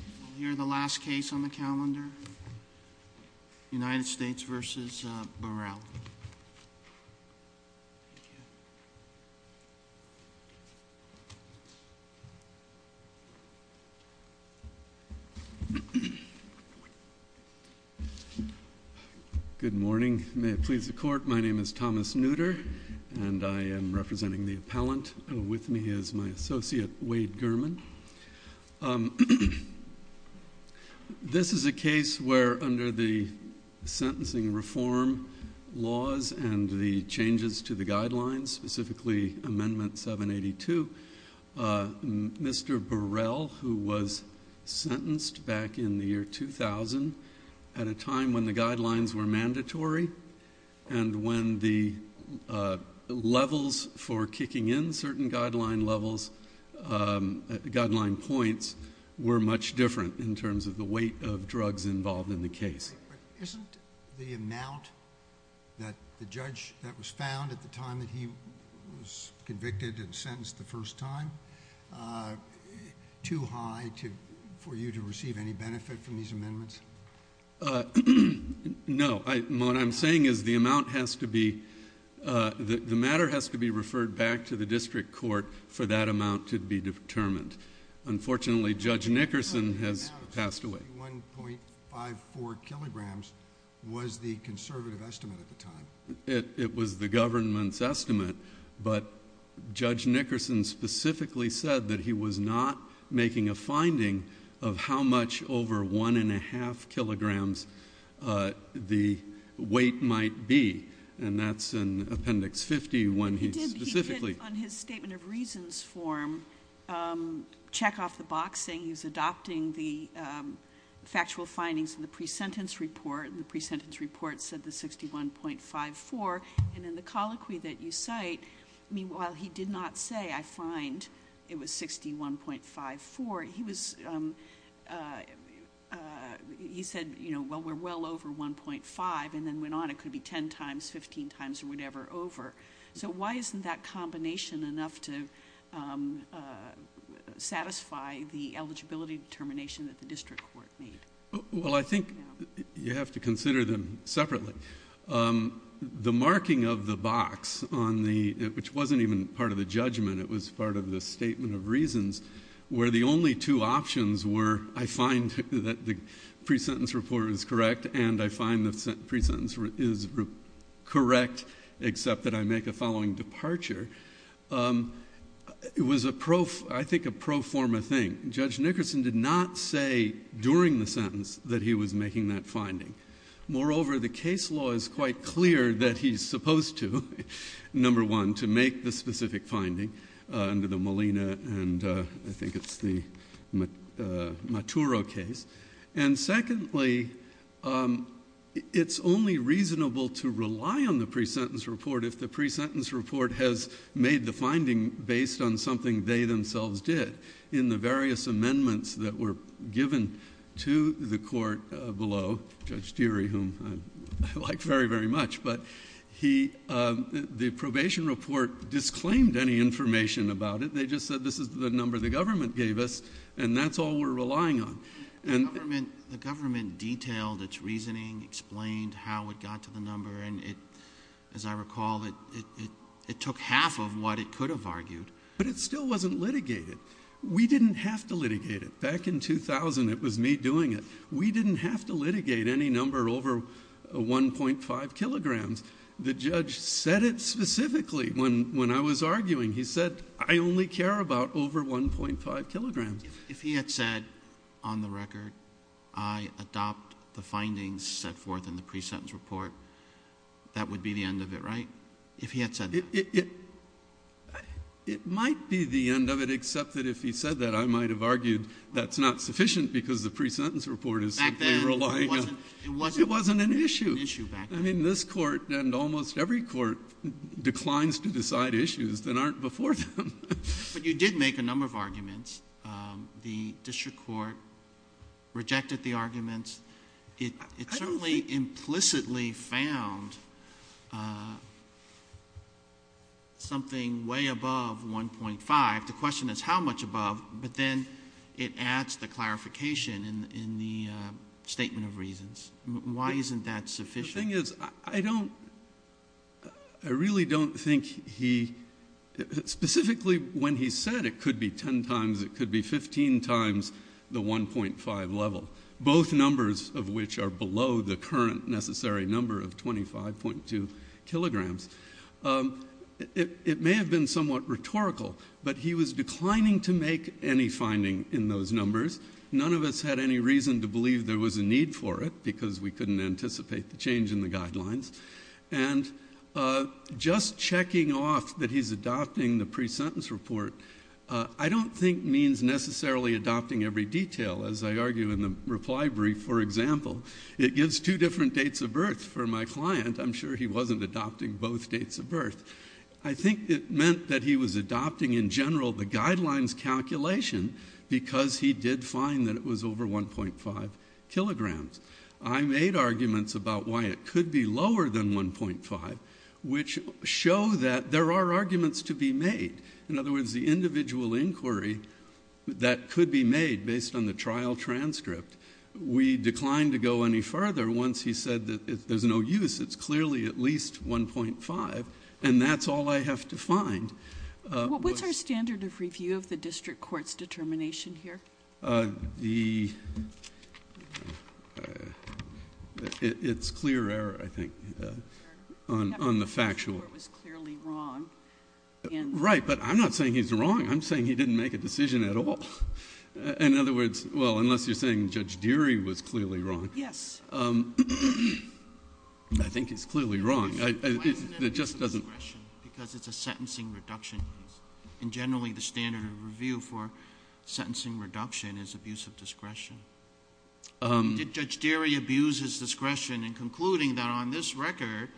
I'll hear the last case on the calendar. United States v. Burrell. Good morning. May it please the court, my name is Thomas Nooter and I am representing the appellant and with me is my associate Wade Gurman. This is a case where under the sentencing reform laws and the changes to the guidelines, specifically amendment 782, Mr. Burrell who was sentenced back in the year 2000 at a time when the guidelines were kicking in, certain guideline levels, guideline points were much different in terms of the weight of drugs involved in the case. Isn't the amount that the judge that was found at the time that he was convicted and sentenced the first time too high for you to receive any benefit from these amendments? No. What I'm saying is the amount has to be, the matter has to be referred back to the district court for that amount to be determined. Unfortunately, Judge Nickerson has passed away. 1.54 kilograms was the conservative estimate at the time. It was the government's estimate, but Judge Nickerson specifically said that he was not making a finding of how much over one and a half kilograms the weight might be and that's in appendix 50 when he specifically... He did on his statement of reasons form check off the box saying he was adopting the factual findings in the pre-sentence report. The pre-sentence report said the 61.54 and in the colloquy that you cite, while he did not say, I find it was 61.54, he said, well, we're well over 1.5 and then went on. It could be 10 times, 15 times or whatever over. Why isn't that combination enough to satisfy the eligibility determination that the district court made? Well, I think you have to consider them separately. The marking of the box, which wasn't even part of the judgment, it was part of the statement of reasons where the only two options were, I find that the pre-sentence report is correct and I find the pre-sentence is correct except that I make a following departure. It was a pro... I think a pro forma thing. Judge Nickerson did not say during the sentence that he was making that finding. Moreover, the case law is quite clear that he's supposed to, number one, to make the specific finding under the Molina and I think it's the Maturo case. Secondly, it's only reasonable to rely on the pre-sentence report if the pre-sentence report has made the finding based on something they themselves did. In the various amendments that were given to the court below, Judge Deary, whom I like very, very much, but the probation report disclaimed any information about it. They just said, this is the number the government gave us and that's all we're relying on. The government detailed its reasoning, explained how it got to the number and it, as I recall, it took half of what it could have argued. But it still wasn't litigated. We didn't have to litigate it. Back in 2000, it was me doing it. We didn't have to litigate any number over 1.5 kilograms. The judge said it specifically when I was arguing. He said, I only care about over 1.5 kilograms. If he had said, on the record, I adopt the findings set forth in the pre-sentence report, that would be the end of it, right? If he had said that? It might be the end of it, except that if he said that, I might have argued that's not sufficient because the pre-sentence report is simply relying on... Back then, it wasn't... ...to decide issues that aren't before them. But you did make a number of arguments. The district court rejected the arguments. It certainly implicitly found something way above 1.5. The question is how much above, but then it adds the clarification in the statement of reasons. Why isn't that sufficient? The thing is, I really don't think he... Specifically, when he said it could be 10 times, it could be 15 times the 1.5 level, both numbers of which are below the current necessary number of 25.2 kilograms. It may have been somewhat rhetorical, but he was declining to make any finding in those numbers. None of us had any reason to believe there was a need for it because we couldn't anticipate the change in the guidelines. Just checking off that he's adopting the pre-sentence report, I don't think means necessarily adopting every detail, as I argue in the reply brief, for example. It gives two different dates of birth. For my client, I'm sure he wasn't adopting both dates of birth. I think it meant that he was adopting, in general, the guidelines calculation because he did find that it was over 1.5 kilograms. I made arguments about why it could be lower than 1.5, which show that there are arguments to be made. In other words, the individual inquiry that could be made based on the trial transcript, we declined to go any further once he said that if there's no use, it's clearly at least 1.5, and that's all I have to find. What's our standard of review of the district court's determination here? It's clear error, I think, on the factual. It was clearly wrong. Right, but I'm not saying he's wrong. I'm saying he didn't make a decision at all. In other words, well, unless you're saying Judge Deary was clearly wrong. Yes. I think he's clearly wrong. Why isn't it abuse of discretion? Because it's a sentencing reduction case. Generally, the standard of review for sentencing reduction is abuse of discretion. Did Judge Deary abuse his discretion in concluding that on this record,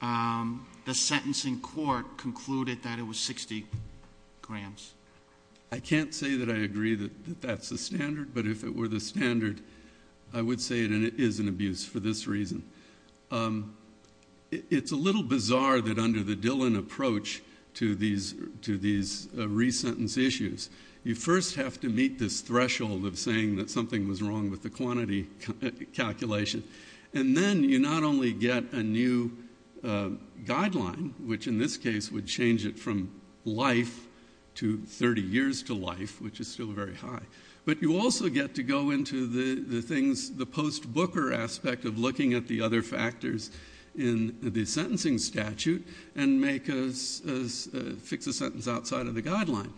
the sentencing court concluded that it was 60 grams? I can't say that I agree that that's the standard, but if it were the standard, I would say it is an abuse for this reason. It's a little bizarre that under the Dillon approach to these resentence issues, you first have to meet this threshold of saying that something was wrong with the quantity calculation, and then you not only get a new guideline, which in this case would change it from life to 30 years to life, which is still very high, but you also get to go into the things, the post-Booker aspect of looking at the other factors in the sentencing statute and fix a sentence outside of the guideline.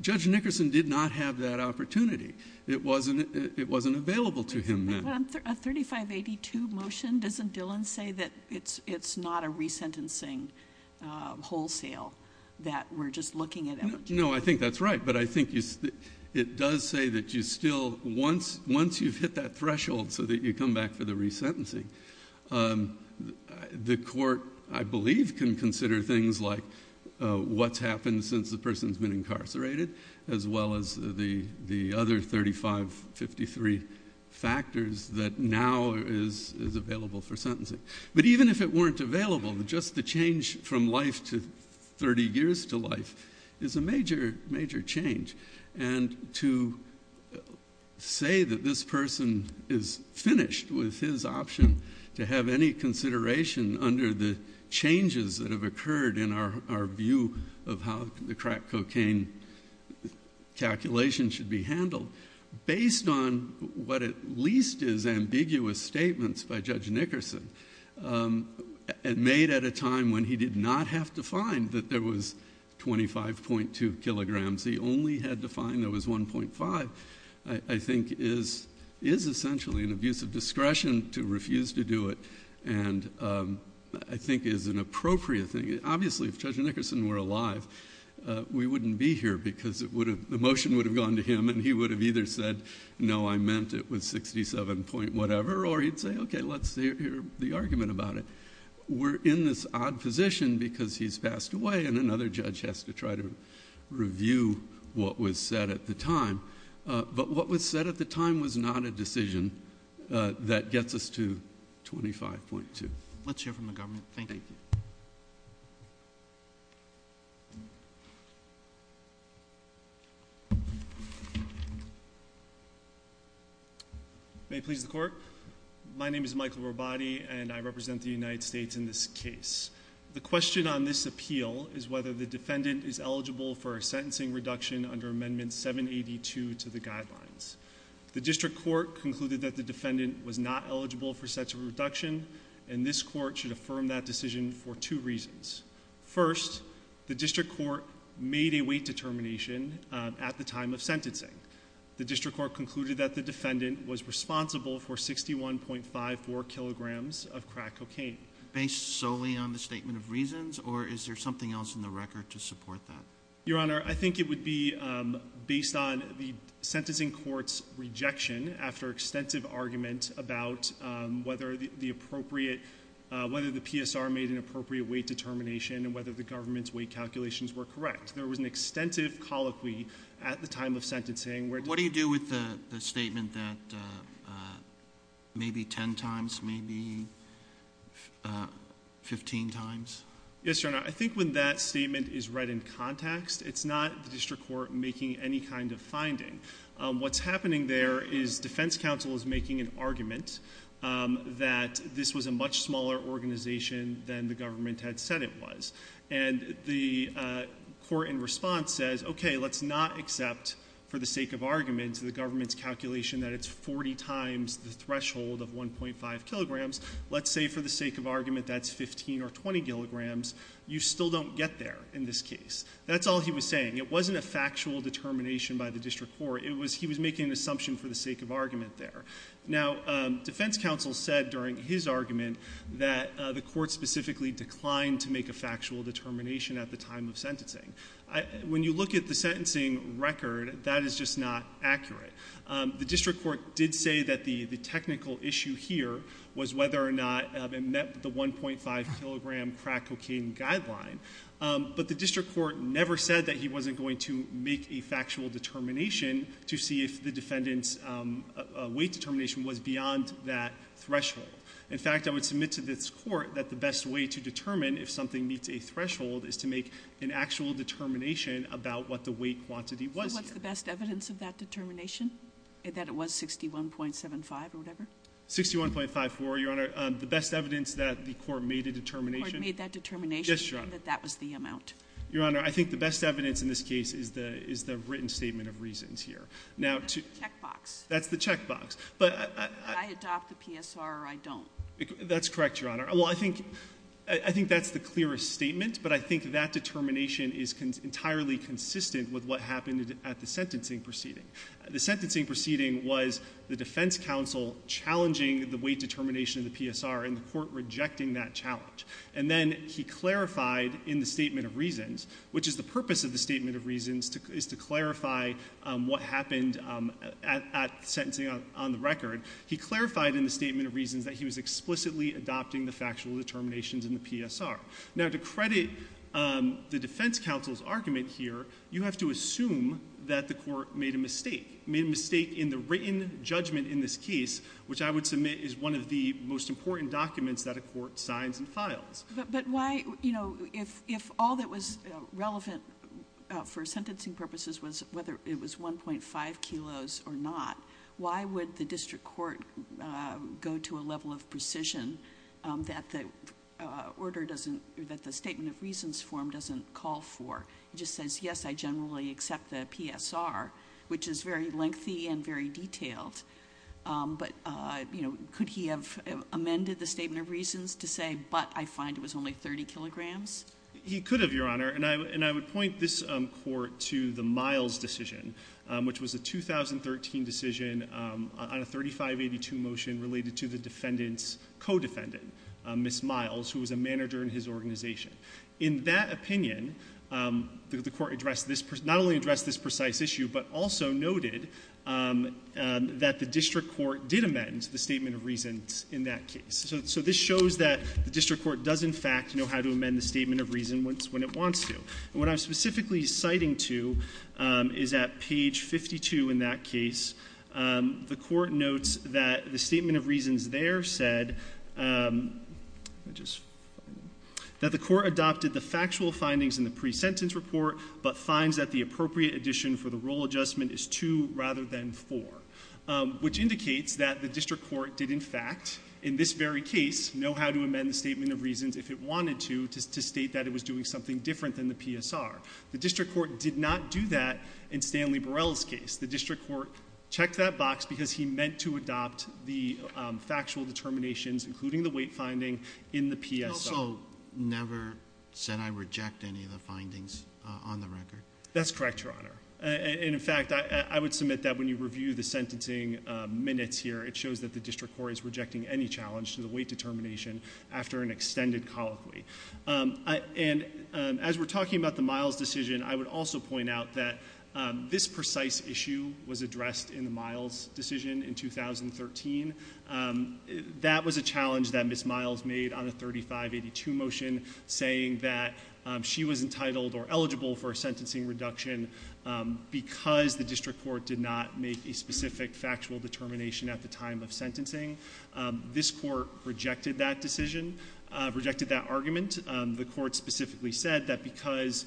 Judge Nickerson did not have that opportunity. It wasn't available to him then. A 3582 motion, doesn't Dillon say that it's not a resentencing wholesale that we're just looking at energy? No, I think that's right, but I think it does say that you still, once you've hit that threshold so that you come back for the resentencing, the court, I believe, can consider things like what's happened since the person's been incarcerated, as well as the other 3553 factors that now is available for sentencing. But even if it weren't available, just the change from life to 30 years to life is a major, major change. And to say that this person is finished with his option to have any consideration under the changes that have occurred in our view of how the crack cocaine calculation should be handled, based on what at least is ambiguous statements by Judge Nickerson, and made at a time when he did not have to find that there was 25.2 kilograms, he only had to find there was 1.5, I think is essentially an abuse of discretion to refuse to do it, and I think is an appropriate thing. Obviously, if Judge Nickerson were alive, we wouldn't be here because the motion would have gone to him, and he would have either said, no, I meant it was 67 point whatever, or he'd say, okay, let's hear the argument about it. We're in this odd position because he's passed away and another judge has to try to review what was said at the time, but what was said at the time was not a decision that gets us to 25.2. Let's hear from the government. Thank you. Thank you. May it please the Court? My name is Michael Robati, and I represent the United States in this case. The question on this appeal is whether the defendant is eligible for a sentencing reduction under Amendment 782 to the guidelines. The district court concluded that the defendant was not eligible for such a reduction, and this court should affirm that decision for two reasons. First, the district court made a weight determination at the time of sentencing. The district court concluded that the defendant was responsible for 61.54 kilograms of crack cocaine. Based solely on the statement of reasons, or is there something else in the record to support that? Your Honor, I think it would be based on the sentencing court's rejection after extensive argument about whether the PSR made an appropriate weight determination and whether the government's weight calculations were correct. There was an extensive colloquy at the time of sentencing. What do you do with the statement that maybe 10 times, maybe 15 times? Yes, Your Honor, I think when that statement is read in context, what's happening there is defense counsel is making an argument that this was a much smaller organization than the government had said it was. And the court in response says, okay, let's not accept for the sake of argument the government's calculation that it's 40 times the threshold of 1.5 kilograms. Let's say for the sake of argument that's 15 or 20 kilograms. You still don't get there in this case. That's all he was saying. It wasn't a factual determination by the district court. He was making an assumption for the sake of argument there. Now, defense counsel said during his argument that the court specifically declined to make a factual determination at the time of sentencing. When you look at the sentencing record, that is just not accurate. The district court did say that the technical issue here was whether or not it met the 1.5-kilogram crack cocaine guideline. But the district court never said that he wasn't going to make a factual determination to see if the defendant's weight determination was beyond that threshold. In fact, I would submit to this court that the best way to determine if something meets a threshold is to make an actual determination about what the weight quantity was. What's the best evidence of that determination, that it was 61.75 or whatever? 61.54, Your Honor. The best evidence that the court made a determination. The court made that determination. Yes, Your Honor. That that was the amount. Your Honor, I think the best evidence in this case is the written statement of reasons here. That's the checkbox. That's the checkbox. I adopt the PSR or I don't. That's correct, Your Honor. I think that's the clearest statement, but I think that determination is entirely consistent with what happened at the sentencing proceeding. The sentencing proceeding was the defense counsel challenging the weight determination of the PSR and the court rejecting that challenge. Then he clarified in the statement of reasons, which is the purpose of the statement of reasons, is to clarify what happened at sentencing on the record. He clarified in the statement of reasons that he was explicitly adopting the factual determinations in the PSR. Now, to credit the defense counsel's argument here, you have to assume that the court made a mistake. Made a mistake in the written judgment in this case, which I would submit is one of the most important documents that a court signs and files. But why, you know, if all that was relevant for sentencing purposes was whether it was 1.5 kilos or not, why would the district court go to a level of precision that the statement of reasons form doesn't call for? It just says, yes, I generally accept the PSR, which is very lengthy and very detailed. But, you know, could he have amended the statement of reasons to say, but I find it was only 30 kilograms? He could have, Your Honor, and I would point this court to the Miles decision, which was a 2013 decision on a 3582 motion related to the defendant's co-defendant, Miss Miles, who was a manager in his organization. In that opinion, the court not only addressed this precise issue, but also noted that the district court did amend the statement of reasons in that case. So this shows that the district court does, in fact, know how to amend the statement of reason when it wants to. What I'm specifically citing to is at page 52 in that case, the court notes that the statement of reasons there said that the court adopted the factual findings in the pre-sentence report, but finds that the appropriate addition for the rule adjustment is 2 rather than 4, which indicates that the district court did, in fact, in this very case, know how to amend the statement of reasons if it wanted to, to state that it was doing something different than the PSR. The district court did not do that in Stanley Burrell's case. The district court checked that box because he meant to adopt the factual determinations, including the weight finding, in the PSR. He also never said, I reject any of the findings on the record. That's correct, Your Honor. And, in fact, I would submit that when you review the sentencing minutes here, it shows that the district court is rejecting any challenge to the weight determination after an extended colloquy. And as we're talking about the Miles decision, I would also point out that this precise issue was addressed in the Miles decision in 2013. That was a challenge that Ms. Miles made on the 3582 motion, saying that she was entitled or eligible for a sentencing reduction because the district court did not make a specific factual determination at the time of sentencing. This court rejected that decision, rejected that argument. The court specifically said that because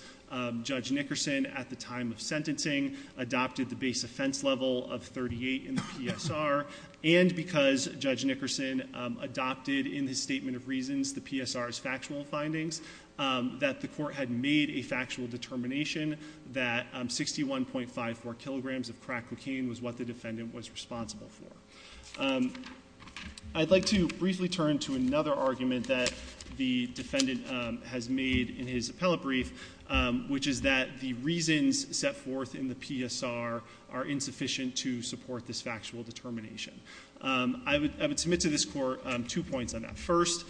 Judge Nickerson, at the time of sentencing, adopted the base offense level of 38 in the PSR, and because Judge Nickerson adopted in his statement of reasons the PSR's factual findings, that the court had made a factual determination that 61.54 kilograms of crack cocaine was what the defendant was responsible for. I'd like to briefly turn to another argument that the defendant has made in his appellate brief, which is that the reasons set forth in the PSR are insufficient to support this factual determination. I would submit to this court two points on that. First,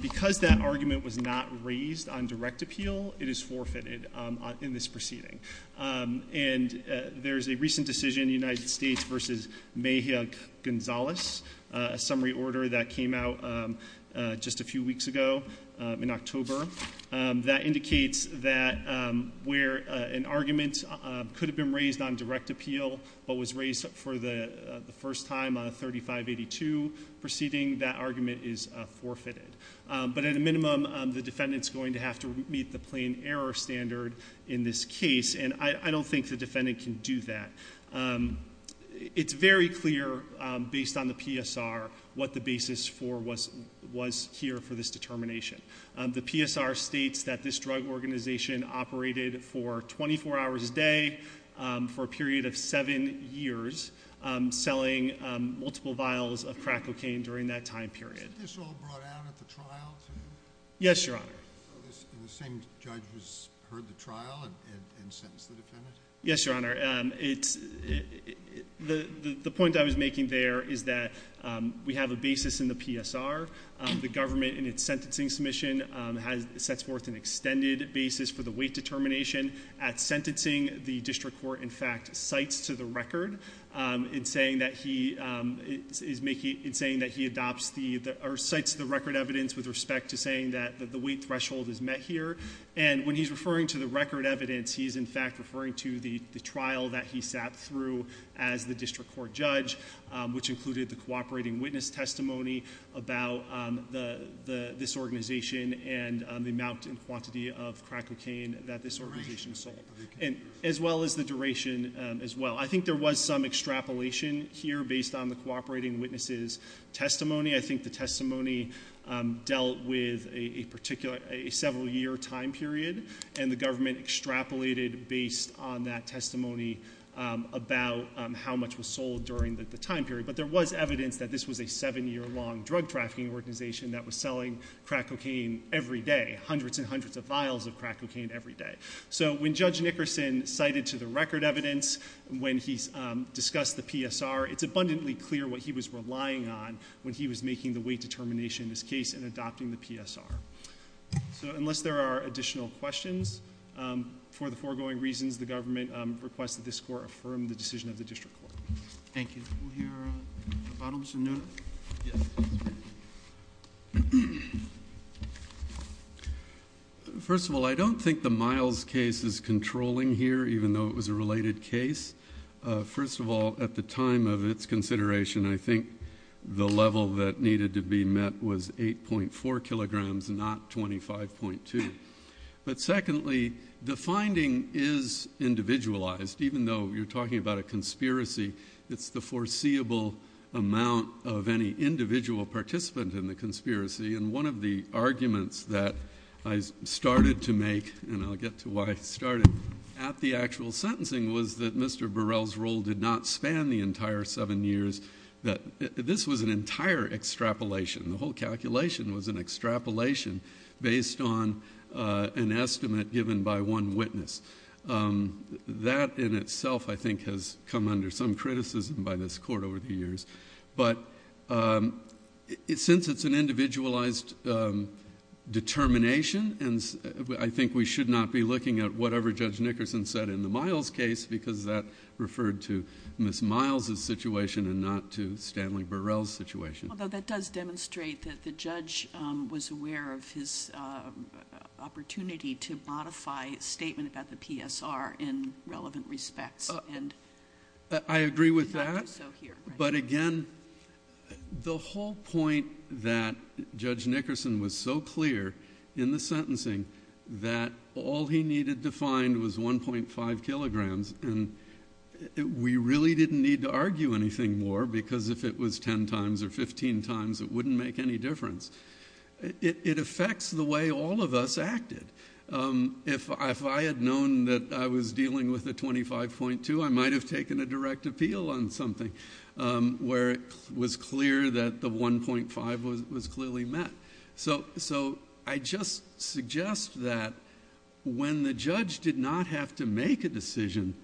because that argument was not raised on direct appeal, it is forfeited in this proceeding. There's a recent decision in the United States versus Mejia-Gonzalez, a summary order that came out just a few weeks ago in October, that indicates that where an argument could have been raised on direct appeal, but was raised for the first time on a 3582 proceeding, that argument is forfeited. But at a minimum, the defendant's going to have to meet the plain error standard in this case, and I don't think the defendant can do that. It's very clear, based on the PSR, what the basis was here for this determination. The PSR states that this drug organization operated for 24 hours a day for a period of seven years, selling multiple vials of crack cocaine during that time period. Was this all brought out at the trial, too? Yes, Your Honor. And the same judge who's heard the trial and sentenced the defendant? Yes, Your Honor. The point I was making there is that we have a basis in the PSR. The government, in its sentencing submission, sets forth an extended basis for the weight determination. At sentencing, the district court, in fact, cites to the record in saying that he adopts or cites the record evidence with respect to saying that the weight threshold is met here. And when he's referring to the record evidence, he's, in fact, referring to the trial that he sat through as the district court judge, which included the cooperating witness testimony about this organization and the amount and quantity of crack cocaine that this organization sold, as well as the duration as well. I think there was some extrapolation here based on the cooperating witness's testimony. I think the testimony dealt with a several-year time period, and the government extrapolated based on that testimony about how much was sold during the time period. But there was evidence that this was a seven-year-long drug trafficking organization that was selling crack cocaine every day, hundreds and hundreds of vials of crack cocaine every day. So when Judge Nickerson cited to the record evidence when he discussed the PSR, it's abundantly clear what he was relying on when he was making the weight determination in this case and adopting the PSR. So unless there are additional questions, for the foregoing reasons, the government requests that this court affirm the decision of the district court. Thank you. We'll hear from Mr. Nutter. Mr. Nutter? First of all, I don't think the Miles case is controlling here, even though it was a related case. First of all, at the time of its consideration, I think the level that needed to be met was 8.4 kilograms, not 25.2. But secondly, the finding is individualized. Even though you're talking about a conspiracy, it's the foreseeable amount of any individual participant in the conspiracy. And one of the arguments that I started to make, and I'll get to why I started at the actual sentencing, was that Mr. Burrell's rule did not span the entire seven years. This was an entire extrapolation. The whole calculation was an extrapolation based on an estimate given by one witness. That in itself, I think, has come under some criticism by this court over the years. But since it's an individualized determination, I think we should not be looking at whatever Judge Nickerson said in the Miles case, because that referred to Ms. Miles' situation and not to Stanley Burrell's situation. Although that does demonstrate that the judge was aware of his opportunity to modify a statement about the PSR in relevant respects. I agree with that. But again, the whole point that Judge Nickerson was so clear in the sentencing that all he needed to find was 1.5 kilograms, and we really didn't need to argue anything more because if it was 10 times or 15 times, it wouldn't make any difference. It affects the way all of us acted. If I had known that I was dealing with a 25.2, I might have taken a direct appeal on something where it was clear that the 1.5 was clearly met. I just suggest that when the judge did not have to make a decision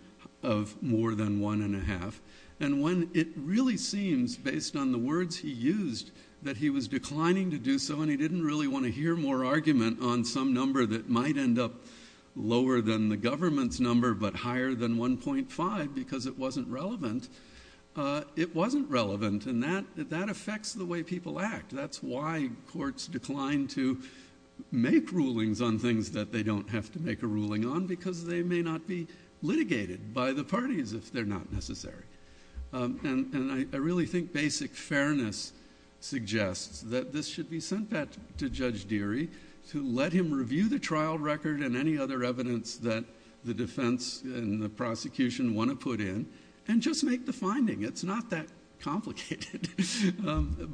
of more than 1.5, and when it really seems, based on the words he used, that he was declining to do so and he didn't really want to hear more argument on some number that might end up lower than the government's number but higher than 1.5 because it wasn't relevant, it wasn't relevant. And that affects the way people act. That's why courts decline to make rulings on things that they don't have to make a ruling on because they may not be litigated by the parties if they're not necessary. And I really think basic fairness suggests that this should be sent back to Judge Deary to let him review the trial record and any other evidence that the defense and the prosecution want to put in and just make the finding. It's not that complicated.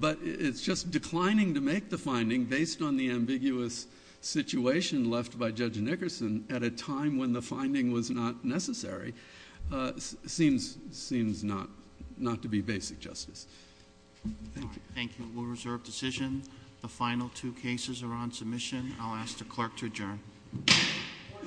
But it's just declining to make the finding based on the ambiguous situation left by Judge Nickerson at a time when the finding was not necessary seems not to be basic justice. Thank you. We'll reserve decision. The final two cases are on submission. I'll ask the clerk to adjourn. Court is adjourned.